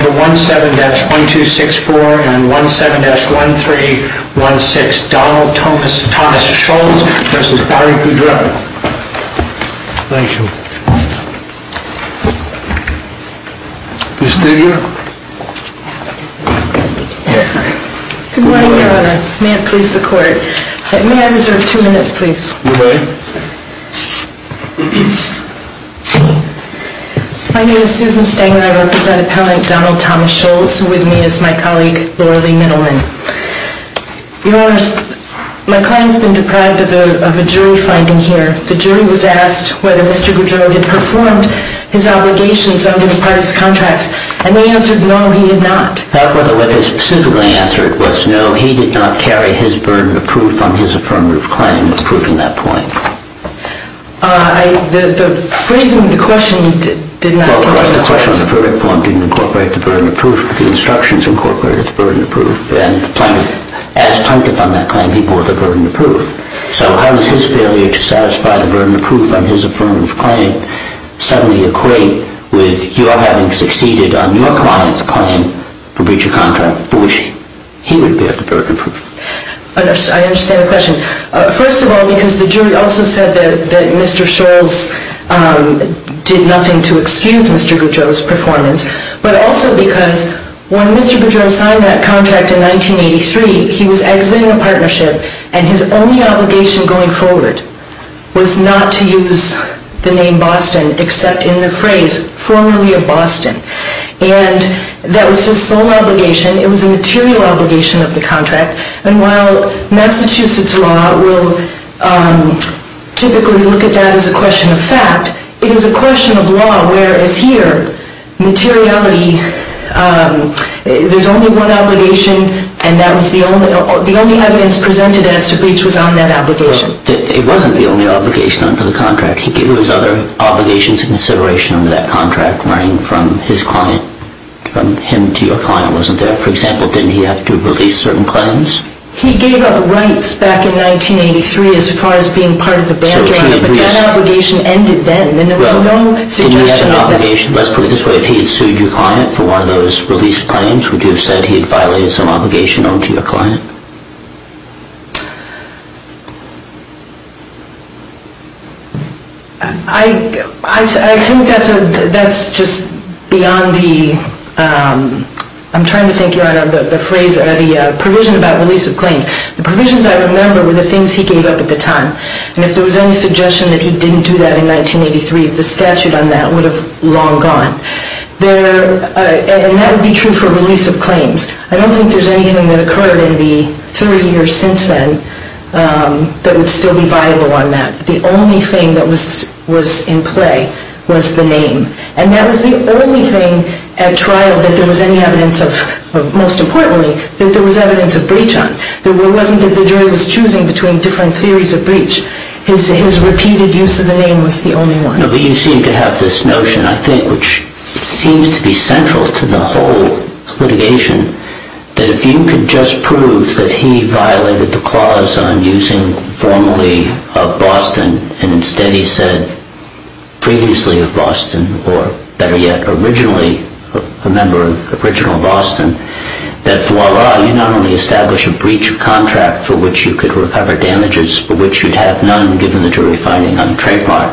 17-1264 and 17-1316, Donald Thomas Scholz v. Barry Goudreau. Thank you. Ms. Stenger? Good morning, Your Honor. May it please the Court. May I reserve two minutes, please? You may. Thank you. My name is Susan Stenger. I represent Appellant Donald Thomas Scholz. With me is my colleague, Loralee Middleman. Your Honor, my client has been deprived of a jury finding here. The jury was asked whether Mr. Goudreau had performed his obligations under the parties' contracts, and they answered no, he had not. However, what they specifically answered was no, he did not carry his burden of proof on his affirmative claim of proving that point. The phrasing of the question did not... Well, first, the question of the verdict form didn't incorporate the burden of proof, but the instructions incorporated the burden of proof, and the plaintiff. As plaintiff on that claim, he bore the burden of proof. So how does his failure to satisfy the burden of proof on his affirmative claim suddenly equate with your having succeeded on your client's claim to breach a contract for which he would bear the burden of proof? I understand the question. First of all, because the jury also said that Mr. Scholz did nothing to excuse Mr. Goudreau's performance, but also because when Mr. Goudreau signed that contract in 1983, he was exiting a partnership, and his only obligation going forward was not to use the name Boston except in the phrase, formerly of Boston. And that was his sole obligation. It was a material obligation of the contract, and while Massachusetts law will typically look at that as a question of fact, it is a question of law, whereas here, materiality, there's only one obligation, and that was the only evidence presented as to breach was on that obligation. It wasn't the only obligation under the contract. He gave his other obligations of consideration under that contract, running from his client, from him to your client, wasn't there. For example, didn't he have to release certain claims? He gave up rights back in 1983 as far as being part of the band, Your Honor, but that obligation ended then. Let's put it this way. If he had sued your client for one of those released claims, would you have said he had violated some obligation owed to your client? I think that's just beyond the, I'm trying to think, Your Honor, the phrase, the provision about release of claims. The provisions I remember were the things he gave up at the time, and if there was any suggestion that he didn't do that in 1983, the statute on that would have long gone. And that would be true for release of claims. I don't think there's anything that occurred in the 30 years since then that would still be viable on that. The only thing that was in play was the name, and that was the only thing at trial that there was any evidence of, most importantly, that there was evidence of breach on. It wasn't that the jury was choosing between different theories of breach. His repeated use of the name was the only one. No, but you seem to have this notion, I think, which seems to be central to the whole litigation, that if you could just prove that he violated the clause on using formally of Boston, and instead he said previously of Boston, or better yet, originally a member of original Boston, that voila, you not only establish a breach of contract for which you could recover damages, for which you'd have none given the jury finding on trademark,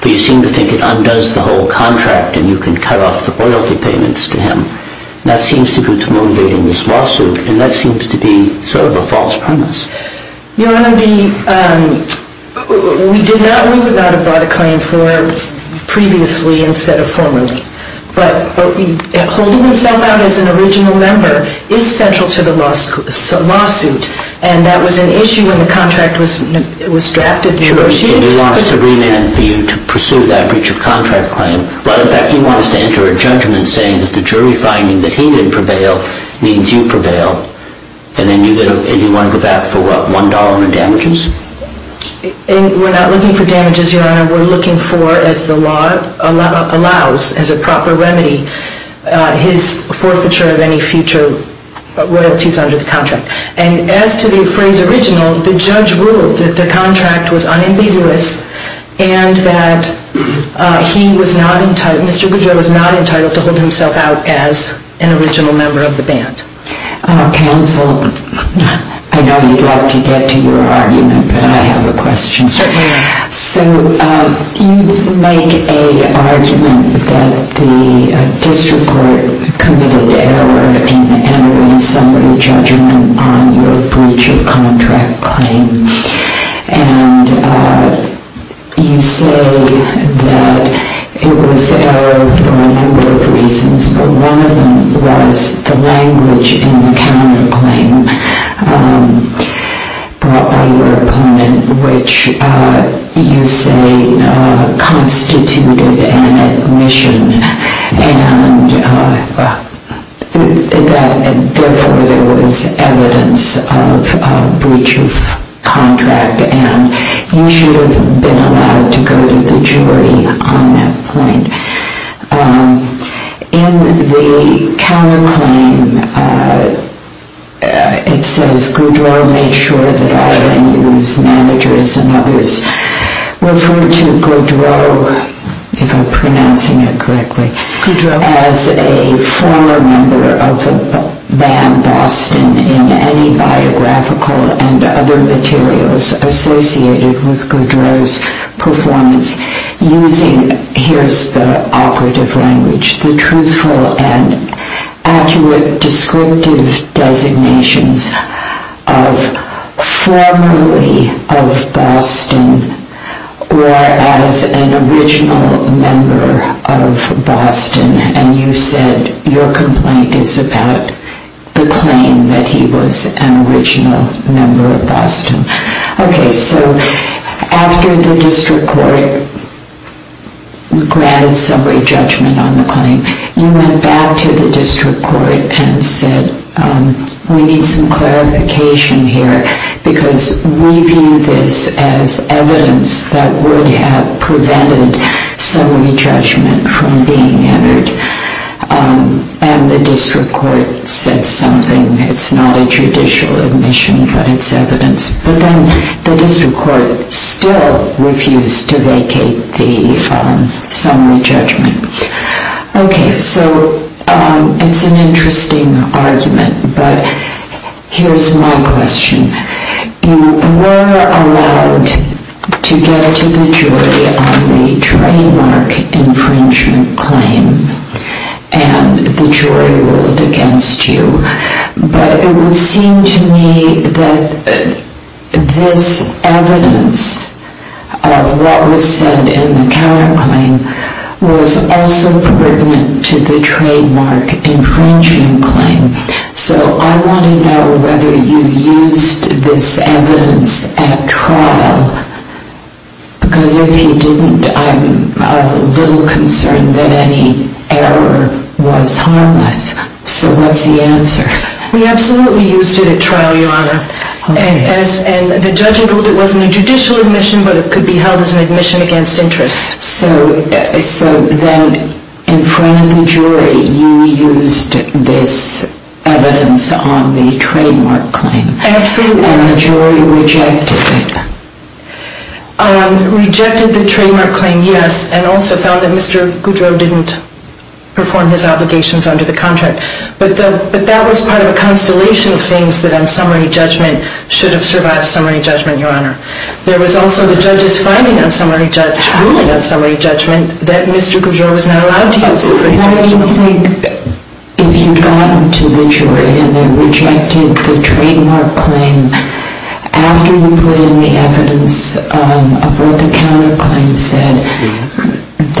but you seem to think it undoes the whole contract and you can cut off the loyalty payments to him. That seems to be what's motivating this lawsuit, and that seems to be sort of a false premise. Your Honor, we did not, we would not have brought a claim forward previously instead of formally. But holding himself out as an original member is central to the lawsuit, and that was an issue when the contract was drafted and negotiated. Sure, and you want us to remand for you to pursue that breach of contract claim, but in fact you want us to enter a judgment saying that the jury finding that he didn't prevail means you prevail, and then you want to go back for what, $1 in damages? We're not looking for damages, Your Honor. We're looking for, as the law allows, as a proper remedy, his forfeiture of any future royalties under the contract. And as to the phrase original, the judge ruled that the contract was unambiguous and that he was not entitled, Mr. Goodjoy was not entitled to hold himself out as an original member of the band. Counsel, I know you'd like to get to your argument, but I have a question. Certainly. So you make a argument that the district court committed error in entering a summary judgment on your breach of contract claim, and you say that it was error for a number of reasons, but one of them was the language in the counterclaim brought by your opponent, which you say constituted an admission, and therefore there was evidence of breach of contract, and you should have been allowed to go to the jury on that point. In the counterclaim, it says Goodroy made sure that all NU's managers and others referred to Goodroy, if I'm pronouncing it correctly, as a former member of the band Boston in any biographical and other materials associated with Goodroy's performance, using, here's the operative language, the truthful and accurate descriptive designations of formerly of Boston or as an original member of Boston, and you said your complaint is about the claim that he was an original member of Boston. Okay. So after the district court granted summary judgment on the claim, you went back to the district court and said we need some clarification here because we view this as evidence that would have prevented summary judgment from being entered, and the district court said something. It's not a judicial admission, but it's evidence. But then the district court still refused to vacate the summary judgment. Okay. So it's an interesting argument, but here's my question. You were allowed to get to the jury on the trademark infringement claim, and the jury ruled against you, but it would seem to me that this evidence of what was said in the counterclaim was also pertinent to the trademark infringement claim. So I want to know whether you used this evidence at trial, because if you didn't, I'm a little concerned that any error was harmless. So what's the answer? We absolutely used it at trial, Your Honor. Okay. And the judge ruled it wasn't a judicial admission, but it could be held as an admission against interest. So then in front of the jury, you used this evidence on the trademark claim. Absolutely. And the jury rejected it. Rejected the trademark claim, yes, and also found that Mr. Goudreau didn't perform his obligations under the contract. But that was part of a constellation of things that on summary judgment should have survived summary judgment, Your Honor. There was also the judge's finding on summary judgment, ruling on summary judgment, that Mr. Goudreau was not allowed to use the phrase. I just think if you'd gotten to the jury and they rejected the trademark claim, after you put in the evidence of what the counterclaim said,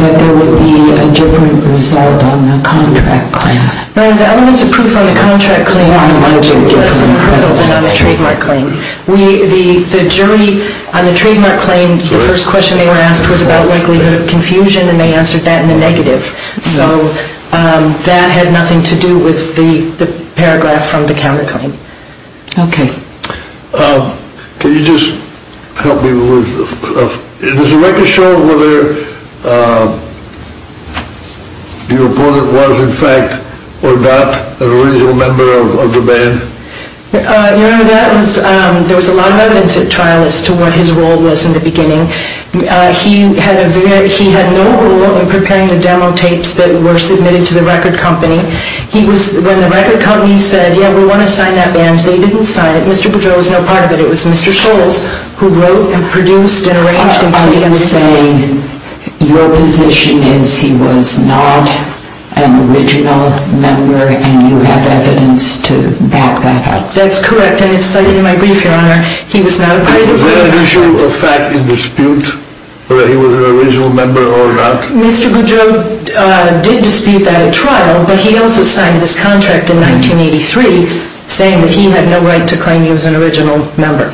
that there would be a different result on the contract claim. No, the evidence approved on the contract claim was less incredible than on the trademark claim. The jury on the trademark claim, the first question they were asked was about likelihood of confusion, and they answered that in the negative. So that had nothing to do with the paragraph from the counterclaim. Okay. Can you just help me with, is there a record show of whether the opponent was in fact or not an original member of the band? Your Honor, there was a lot of evidence at trial as to what his role was in the beginning. He had no role in preparing the demo tapes that were submitted to the record company. When the record company said, yeah, we want to sign that band, they didn't sign it. Mr. Goudreau was no part of it. It was Mr. Scholes who wrote and produced and arranged and played it. Are you saying your position is he was not an original member and you have evidence to back that up? That's correct, and it's cited in my brief, Your Honor. He was not a part of the band. Is there an issue of fact in dispute whether he was an original member or not? Mr. Goudreau did dispute that at trial, but he also signed this contract in 1983 saying that he had no right to claim he was an original member.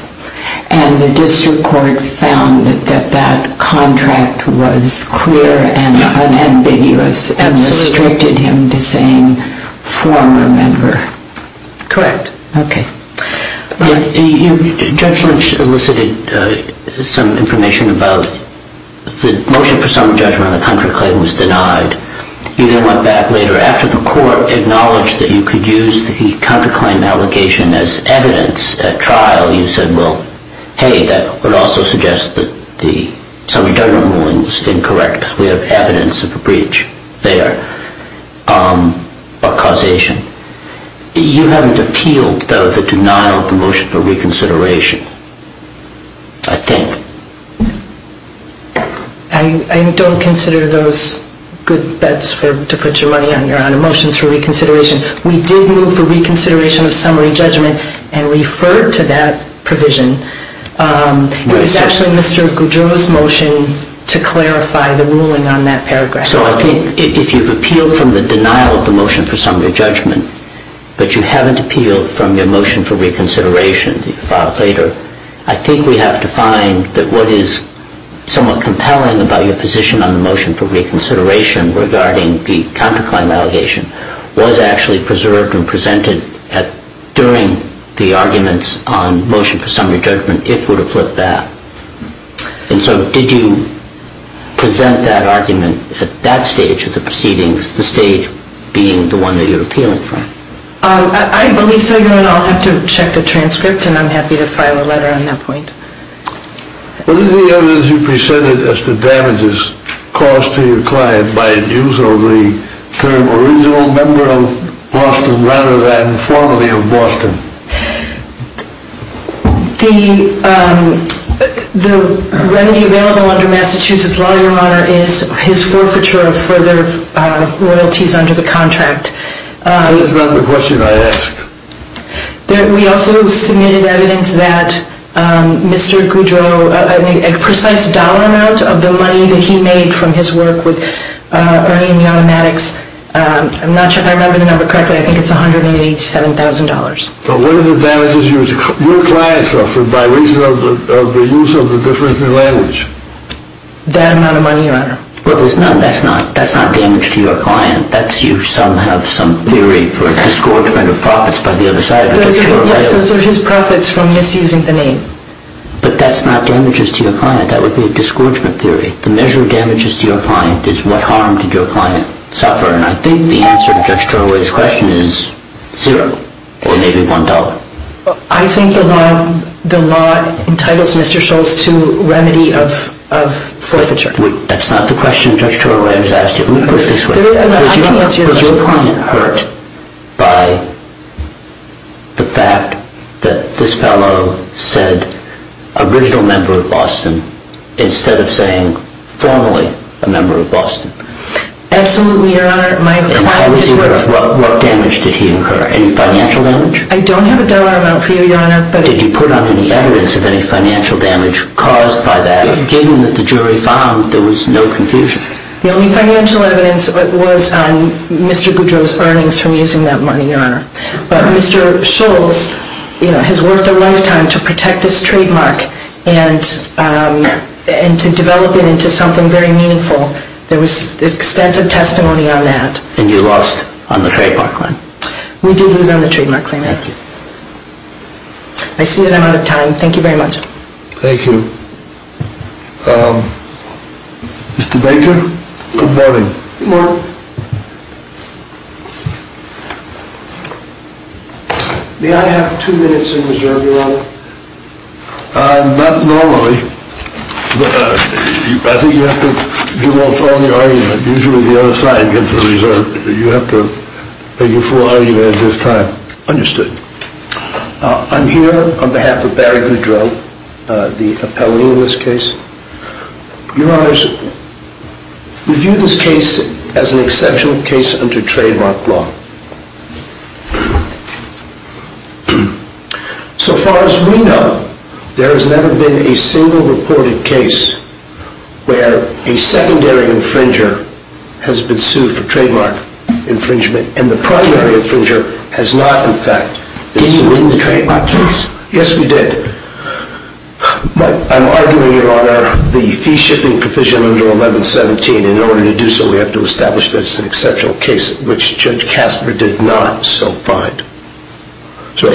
And the district court found that that contract was clear and unambiguous and restricted him to saying former member. Correct. Okay. Judge Lynch elicited some information about the motion for summary judgment on the counterclaim was denied. You then went back later after the court acknowledged that you could use the counterclaim allegation as evidence at trial. You said, well, hey, that would also suggest that the summary judgment ruling was incorrect because we have evidence of a breach there or causation. You haven't appealed the denial of the motion for reconsideration, I think. I don't consider those good bets to put your money on, Your Honor, motions for reconsideration. We did move for reconsideration of summary judgment and referred to that provision. It was actually Mr. Goudreau's motion to clarify the ruling on that paragraph. So I think if you've appealed from the denial of the motion for summary judgment, but you haven't appealed from your motion for reconsideration that you filed later, I think we have to find that what is somewhat compelling about your position on the motion for reconsideration regarding the counterclaim allegation was actually preserved and presented during the arguments on motion for summary judgment if it were to flip that. And so did you present that argument at that stage of the proceedings, the stage being the one that you're appealing from? I believe so, Your Honor. I'll have to check the transcript and I'm happy to file a letter on that point. What is the evidence you presented as to damages caused to your client by its use of the term original member of Boston rather than formerly of Boston? The remedy available under Massachusetts law, Your Honor, is his forfeiture of further royalties under the contract. That is not the question I asked. We also submitted evidence that Mr. Goudreau, a precise dollar amount of the money that he made from his work with Ernie and the Automatics, I'm not sure if I remember the number correctly, I think it's $187,000. But what are the damages your client suffered by reason of the use of the difference in language? That amount of money, Your Honor. Well, that's not damage to your client. That's you somehow have some theory for a disgorgement of profits by the other side. Those are his profits from misusing the name. But that's not damages to your client. That would be a disgorgement theory. The measure of damages to your client is what harm did your client suffer. And I think the answer to Judge Turoway's question is zero or maybe $1. I think the law entitles Mr. Schultz to remedy of forfeiture. That's not the question Judge Turoway has asked you. Let me put it this way. Was your client hurt by the fact that this fellow said original member of Boston instead of saying formerly a member of Boston? Absolutely, Your Honor. What damage did he incur? Any financial damage? I don't have a dollar amount for you, Your Honor. Did you put on any evidence of any financial damage caused by that given that the jury found there was no confusion? The only financial evidence was on Mr. Goudreau's earnings from using that money, Your Honor. But Mr. Schultz has worked a lifetime to protect this trademark and to develop it into something very meaningful. There was extensive testimony on that. And you lost on the trademark claim? We did lose on the trademark claim, Your Honor. Thank you. I see that I'm out of time. Thank you very much. Thank you. Mr. Baker, good morning. Good morning. May I have two minutes in reserve, Your Honor? Not normally, but I think you have to give all thought to your argument. Usually the other side gets the reserve. You have to make a full argument at this time. Understood. I'm here on behalf of Barry Goudreau, the appellee in this case. Your Honor, we view this case as an exceptional case under trademark law. So far as we know, there has never been a single reported case where a secondary infringer has been sued for trademark infringement, and the primary infringer has not, in fact, been sued. Did you win the trademark case? Yes, we did. But I'm arguing, Your Honor, the fee-shipping provision under 1117. In order to do so, we have to establish that it's an exceptional case, which Judge Kasper did not so find. You're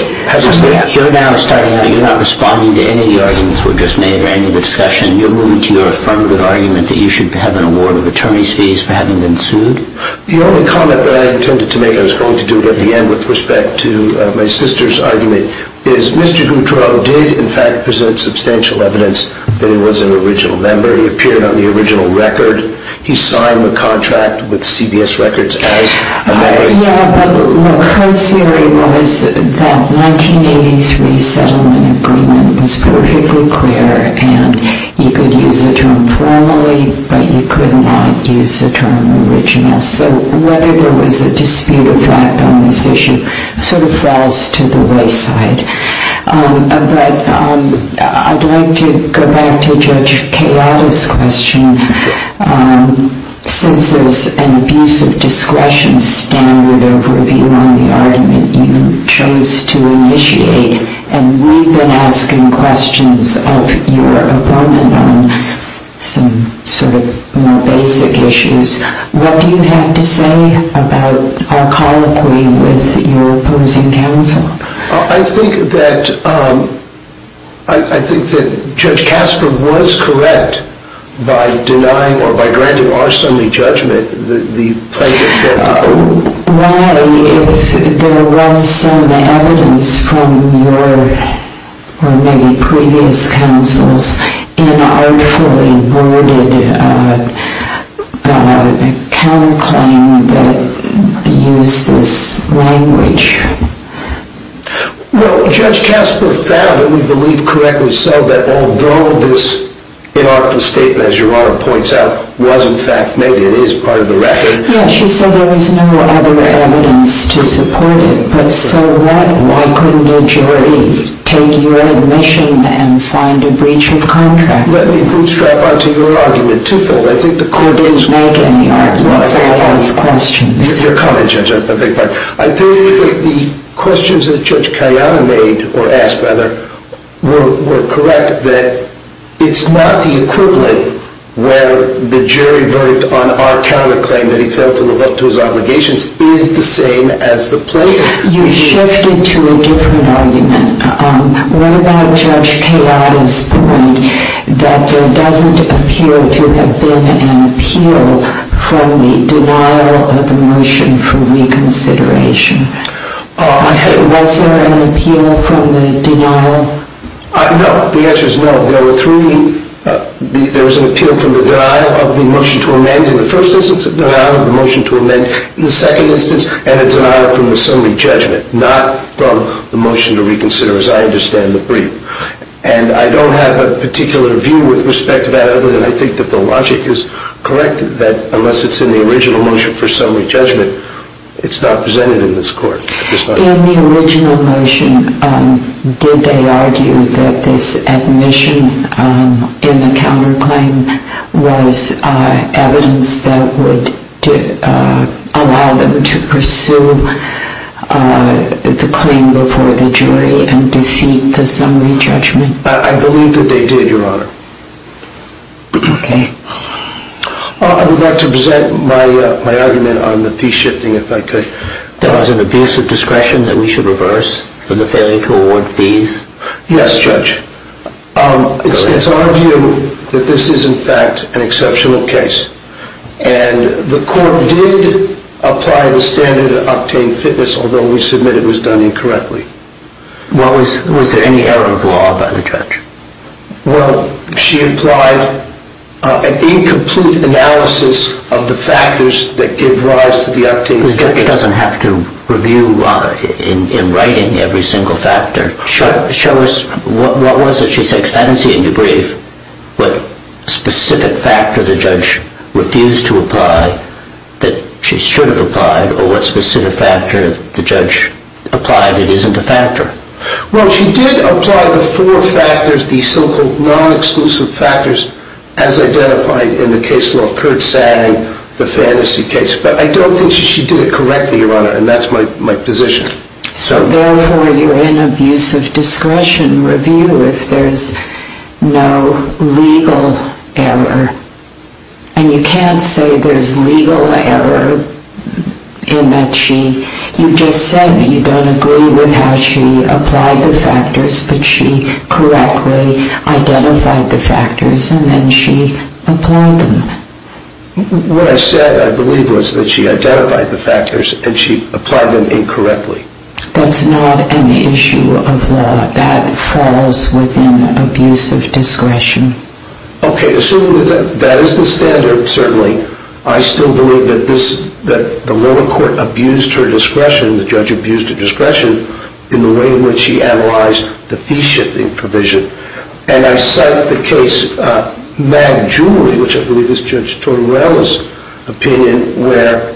now starting out. You're not responding to any of the arguments we've just made or any of the discussion. You're moving to your affirmative argument that you should have an award of attorney's fees for having been sued? The only comment that I intended to make, and I was going to do it at the end with respect to my sister's argument, is Mr. Goudreau did, in fact, present substantial evidence that he was an original member. He appeared on the original record. He signed the contract with CBS Records as a member. Yeah, but look, her theory was that 1983 settlement agreement was perfectly clear, and you could use the term formally, but you could not use the term original. So whether there was a dispute of fact on this issue sort of falls to the wayside. But I'd like to go back to Judge Keato's question. Since there's an abuse of discretion standard of review on the argument you chose to initiate, and we've been asking questions of your opponent on some sort of more basic issues, what do you have to say about our colloquy with your opposing counsel? I think that Judge Kasper was correct by denying or by granting our assembly judgment the plaintiff had to prove. Why, if there was some evidence from your, or maybe previous counsel's, inartful and worded counterclaim that used this language? Well, Judge Kasper found, and we believe correctly so, that although this inartful statement, as your Honor points out, was in fact made, it is part of the record. Yes, she said there was no other evidence to support it, but so what? Why couldn't a jury take your admission and find a breach of contract? Let me bootstrap onto your argument twofold. You didn't make any arguments. I asked questions. Your comment, Judge, is a big part. I think the questions that Judge Keato made, or asked, rather, were correct, in the fact that it's not the equivalent where the jury verdict on our counterclaim that he failed to live up to his obligations is the same as the plaintiff. You shifted to a different argument. What about Judge Keato's point that there doesn't appear to have been an appeal from the denial of the motion for reconsideration? Was there an appeal from the denial? No. The answer is no. There were three. There was an appeal from the denial of the motion to amend in the first instance, a denial of the motion to amend in the second instance, and a denial from the summary judgment, not from the motion to reconsider, as I understand the brief. And I don't have a particular view with respect to that other than I think that the logic is correct, that unless it's in the original motion for summary judgment, it's not presented in this court. In the original motion, did they argue that this admission in the counterclaim was evidence that would allow them to pursue the claim before the jury and defeat the summary judgment? I believe that they did, Your Honor. Okay. I would like to present my argument on the fee shifting, if I could. That was an abuse of discretion that we should reverse for the failure to award fees? Yes, Judge. It's our view that this is, in fact, an exceptional case. And the court did apply the standard of obtaining fitness, although we submit it was done incorrectly. Was there any error of law by the judge? Well, she applied an incomplete analysis of the factors that give rise to the obtained fitness. The judge doesn't have to review in writing every single factor. Show us what was it she said, because I didn't see it in your brief, what specific factor the judge refused to apply that she should have applied, or what specific factor the judge applied that isn't a factor. Well, she did apply the four factors, the so-called non-exclusive factors, as identified in the case law, Curt Sang, the fantasy case. But I don't think she did it correctly, Your Honor, and that's my position. So, therefore, you're in abuse of discretion review if there's no legal error. And you can't say there's legal error in that she... You just said you don't agree with how she applied the factors, but she correctly identified the factors and then she applied them. What I said, I believe, was that she identified the factors and she applied them incorrectly. That's not an issue of law. That falls within abuse of discretion. Okay, assuming that that is the standard, certainly, I still believe that the lower court abused her discretion, the judge abused her discretion, in the way in which she analyzed the fee-shifting provision. And I cite the case Mag Jewelry, which I believe is Judge Tortorella's opinion, where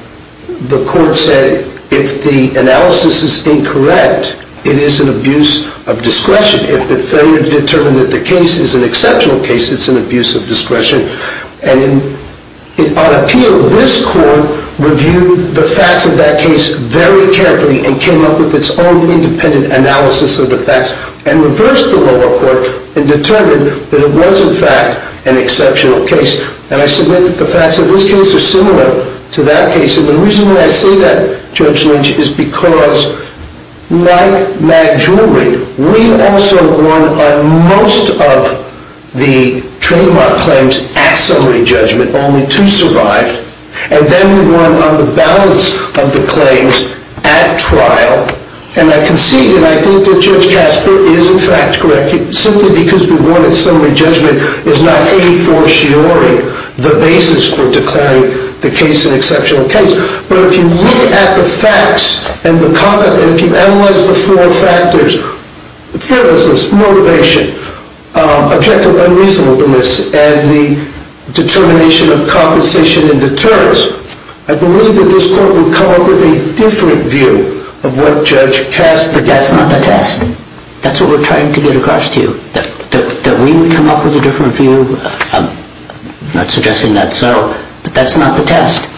the court said if the analysis is incorrect, it is an abuse of discretion. If the failure to determine that the case is an exceptional case, it's an abuse of discretion. And on appeal, this court reviewed the facts of that case very carefully and came up with its own independent analysis of the facts and reversed the lower court and determined that it was, in fact, an exceptional case. And I submit that the facts of this case are similar to that case. And the reason why I say that, Judge Lynch, is because, like Mag Jewelry, we also won on most of the trademark claims at summary judgment, only two survived. And then we won on the balance of the claims at trial. And I concede, and I think that Judge Casper is, in fact, correct, simply because we won at summary judgment is not a fortiori the basis for declaring the case an exceptional case. But if you look at the facts and if you analyze the four factors, fearlessness, motivation, objective unreasonableness, and the determination of compensation and deterrence, I believe that this court would come up with a different view of what Judge Casper did. But that's not the test. That's what we're trying to get across to you, that we would come up with a different view, not suggesting that's so. But that's not the test.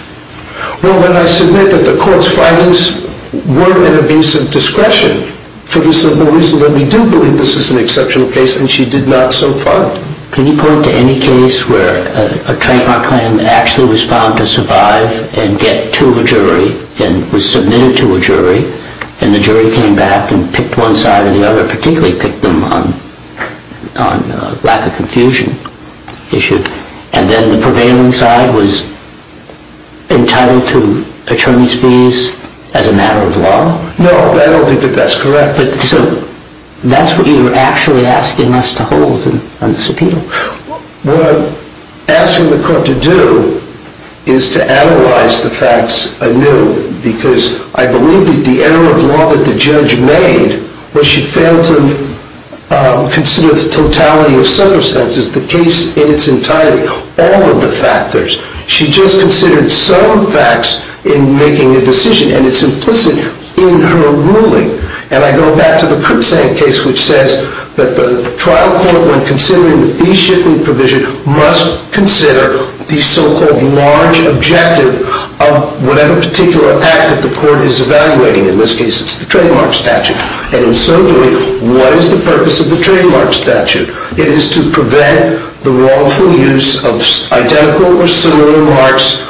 Well, then I submit that the court's findings were an abuse of discretion for the simple reason that we do believe this is an exceptional case, and she did not so far. Can you point to any case where a trademark claim actually was found to survive and get to a jury and was submitted to a jury, and the jury came back and picked one side or the other, particularly picked them on lack of confusion issue, and then the prevailing side was entitled to attorney's fees as a matter of law? No, I don't think that that's correct. So that's what you're actually asking us to hold on this appeal? What I'm asking the court to do is to analyze the facts anew because I believe that the error of law that the judge made was she failed to consider the totality of circumstances. The case in its entirety, all of the factors, she just considered some facts in making a decision, and it's implicit in her ruling. And I go back to the Kurtzank case, which says that the trial court, when considering the fee-shifting provision, must consider the so-called large objective of whatever particular act that the court is evaluating. In this case, it's the trademark statute. And in so doing, what is the purpose of the trademark statute? It is to prevent the wrongful use of identical or similar marks,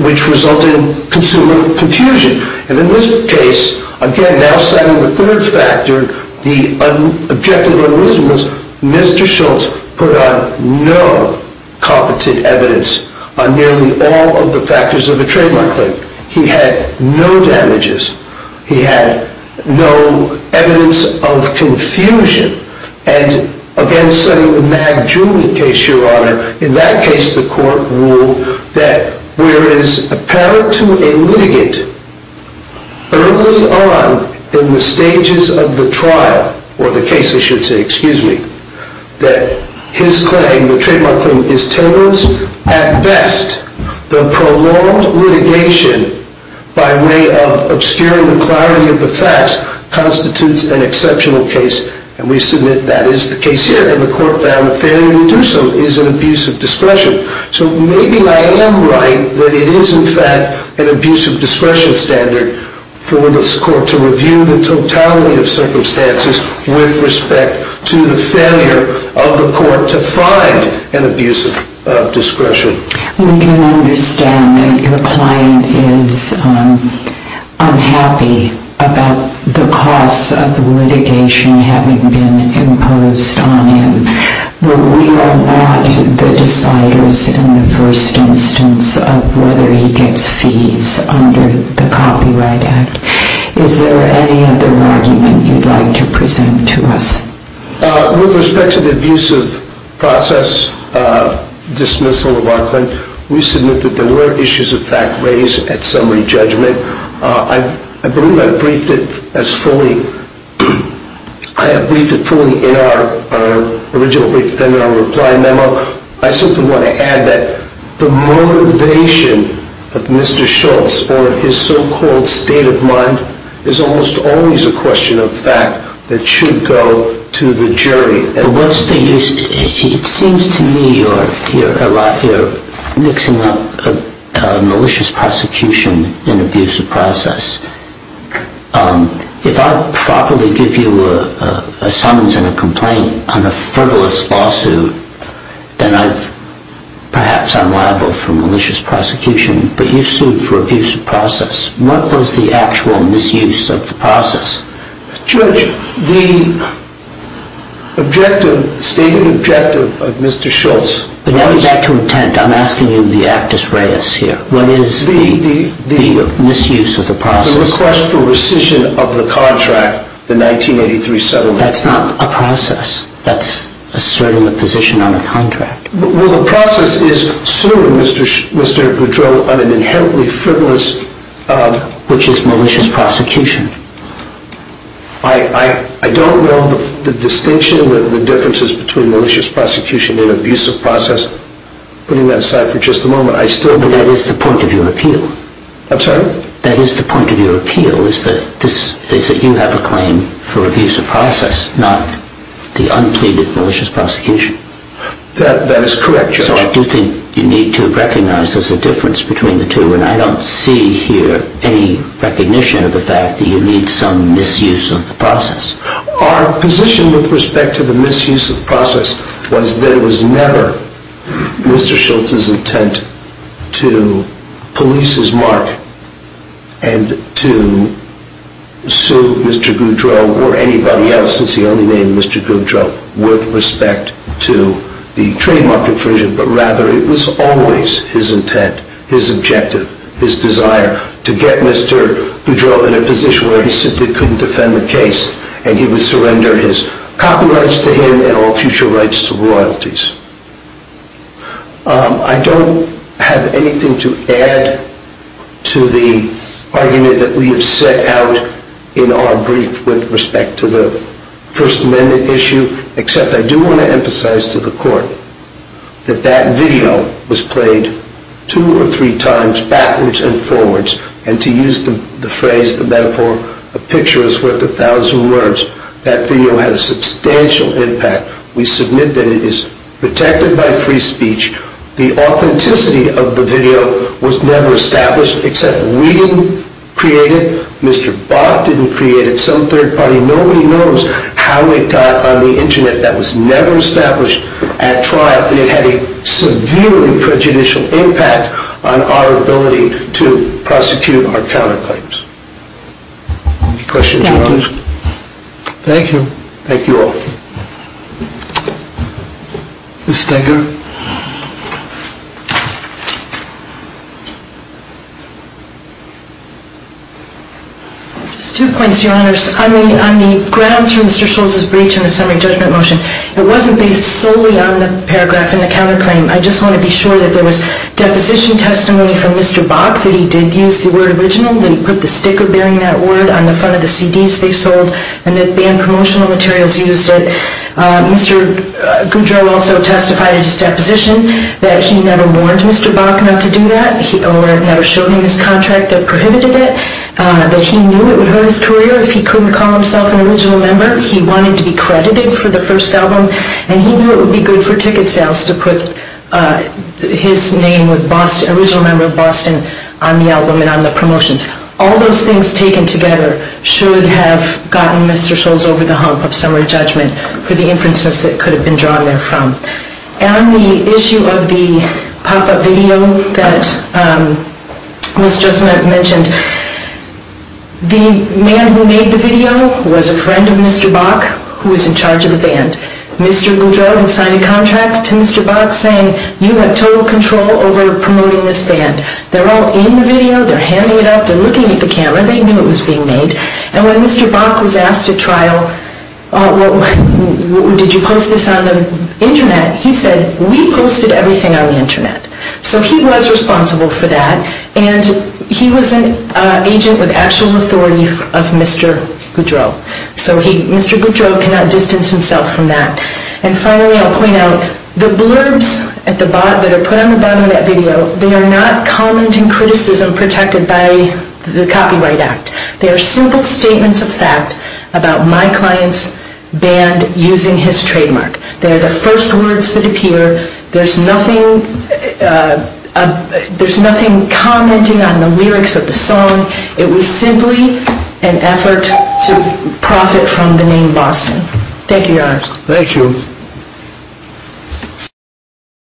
which resulted in confusion. And in this case, again, now citing the third factor, the objective and reason was Mr. Schultz put on no competent evidence on nearly all of the factors of a trademark claim. He had no damages. He had no evidence of confusion. And again, citing the Magdula case, Your Honor, in that case the court ruled that where it is apparent to a litigant early on in the stages of the trial, or the case, I should say, excuse me, that his claim, the trademark claim, is towards at best the prolonged litigation by way of obscuring the clarity of the facts constitutes an exceptional case. And we submit that is the case here. And the court found the failure to do so is an abuse of discretion. So maybe I am right that it is in fact an abuse of discretion standard for this court to review the totality of circumstances with respect to the failure of the court to find an abuse of discretion. We can understand that your client is unhappy about the costs of the litigation having been imposed on him. But we are not the deciders in the first instance of whether he gets fees under the Copyright Act. Is there any other argument you would like to present to us? With respect to the abusive process dismissal of our client, we submit that there were issues of fact raised at summary judgment. I believe I briefed it as fully. I have briefed it fully in our original written reply memo. I simply want to add that the motivation of Mr. Schultz or his so-called state of mind is almost always a question of fact that should go to the jury. It seems to me you are mixing up malicious prosecution and abusive process. If I properly give you a summons and a complaint on a frivolous lawsuit, then perhaps I am liable for malicious prosecution. But you sued for abusive process. What was the actual misuse of the process? Judge, the stated objective of Mr. Schultz was... But let me get back to intent. I'm asking you the actus reus here. What is the misuse of the process? The request for rescission of the contract, the 1983 settlement. That's asserting a position on a contract. Well, the process is suing Mr. Goudreau on an inherently frivolous... Which is malicious prosecution. I don't know the distinction, the differences between malicious prosecution and abusive process. Putting that aside for just a moment, I still... That is the point of your appeal. I'm sorry? That is the point of your appeal, is that you have a claim for abusive process, not the unpleaded malicious prosecution. That is correct, Judge. So I do think you need to recognize there's a difference between the two, and I don't see here any recognition of the fact that you need some misuse of the process. Our position with respect to the misuse of the process was that it was never Mr. Schultz's intent to police his mark and to sue Mr. Goudreau or anybody else, since he only named Mr. Goudreau with respect to the trademark infringement, but rather it was always his intent, his objective, his desire, to get Mr. Goudreau in a position where he simply couldn't defend the case and he would surrender his copyrights to him and all future rights to royalties. I don't have anything to add to the argument that we have set out in our brief with respect to the First Amendment issue, except I do want to emphasize to the Court that that video was played two or three times backwards and forwards, and to use the phrase, the metaphor, a picture is worth a thousand words. That video had a substantial impact. We submit that it is protected by free speech. The authenticity of the video was never established, except we didn't create it. Mr. Bott didn't create it. Some third party. Nobody knows how it got on the Internet. That was never established at trial, and it had a severely prejudicial impact on our ability to prosecute our counterclaims. Any questions? Thank you. Thank you all. Ms. Steiger. Just two points, Your Honors. On the grounds for Mr. Scholz's breach in the summary judgment motion, it wasn't based solely on the paragraph in the counterclaim. I just want to be sure that there was deposition testimony from Mr. Bott, that he did use the word original, that he put the sticker bearing that word on the front of the CDs they sold, and that banned promotional materials used it. Mr. Goudreau also testified in his deposition that he never warned Mr. Bott enough to do that, or never showed him his contract that prohibited it, that he knew it would hurt his career if he couldn't call himself an original member. He wanted to be credited for the first album, and he knew it would be good for ticket sales to put his name with Boston, original member of Boston, on the album and on the promotions. All those things taken together should have gotten Mr. Scholz over the hump of summary judgment for the inferences that could have been drawn there from. On the issue of the pop-up video that Ms. Justment mentioned, the man who made the video was a friend of Mr. Bok, who was in charge of the band. Mr. Goudreau had signed a contract to Mr. Bok saying, you have total control over promoting this band. They're all in the video, they're handing it out, they're looking at the camera, they knew it was being made. And when Mr. Bok was asked at trial, did you post this on the Internet? He said, we posted everything on the Internet. So he was responsible for that, and he was an agent with actual authority of Mr. Goudreau. So Mr. Goudreau cannot distance himself from that. And finally, I'll point out, the blurbs that are put on the bottom of that video, they are not commenting criticism protected by the Copyright Act. They are simple statements of fact about my client's band using his trademark. They are the first words that appear. There's nothing commenting on the lyrics of the song. It was simply an effort to profit from the name Boston. Thank you, Your Honor. Thank you.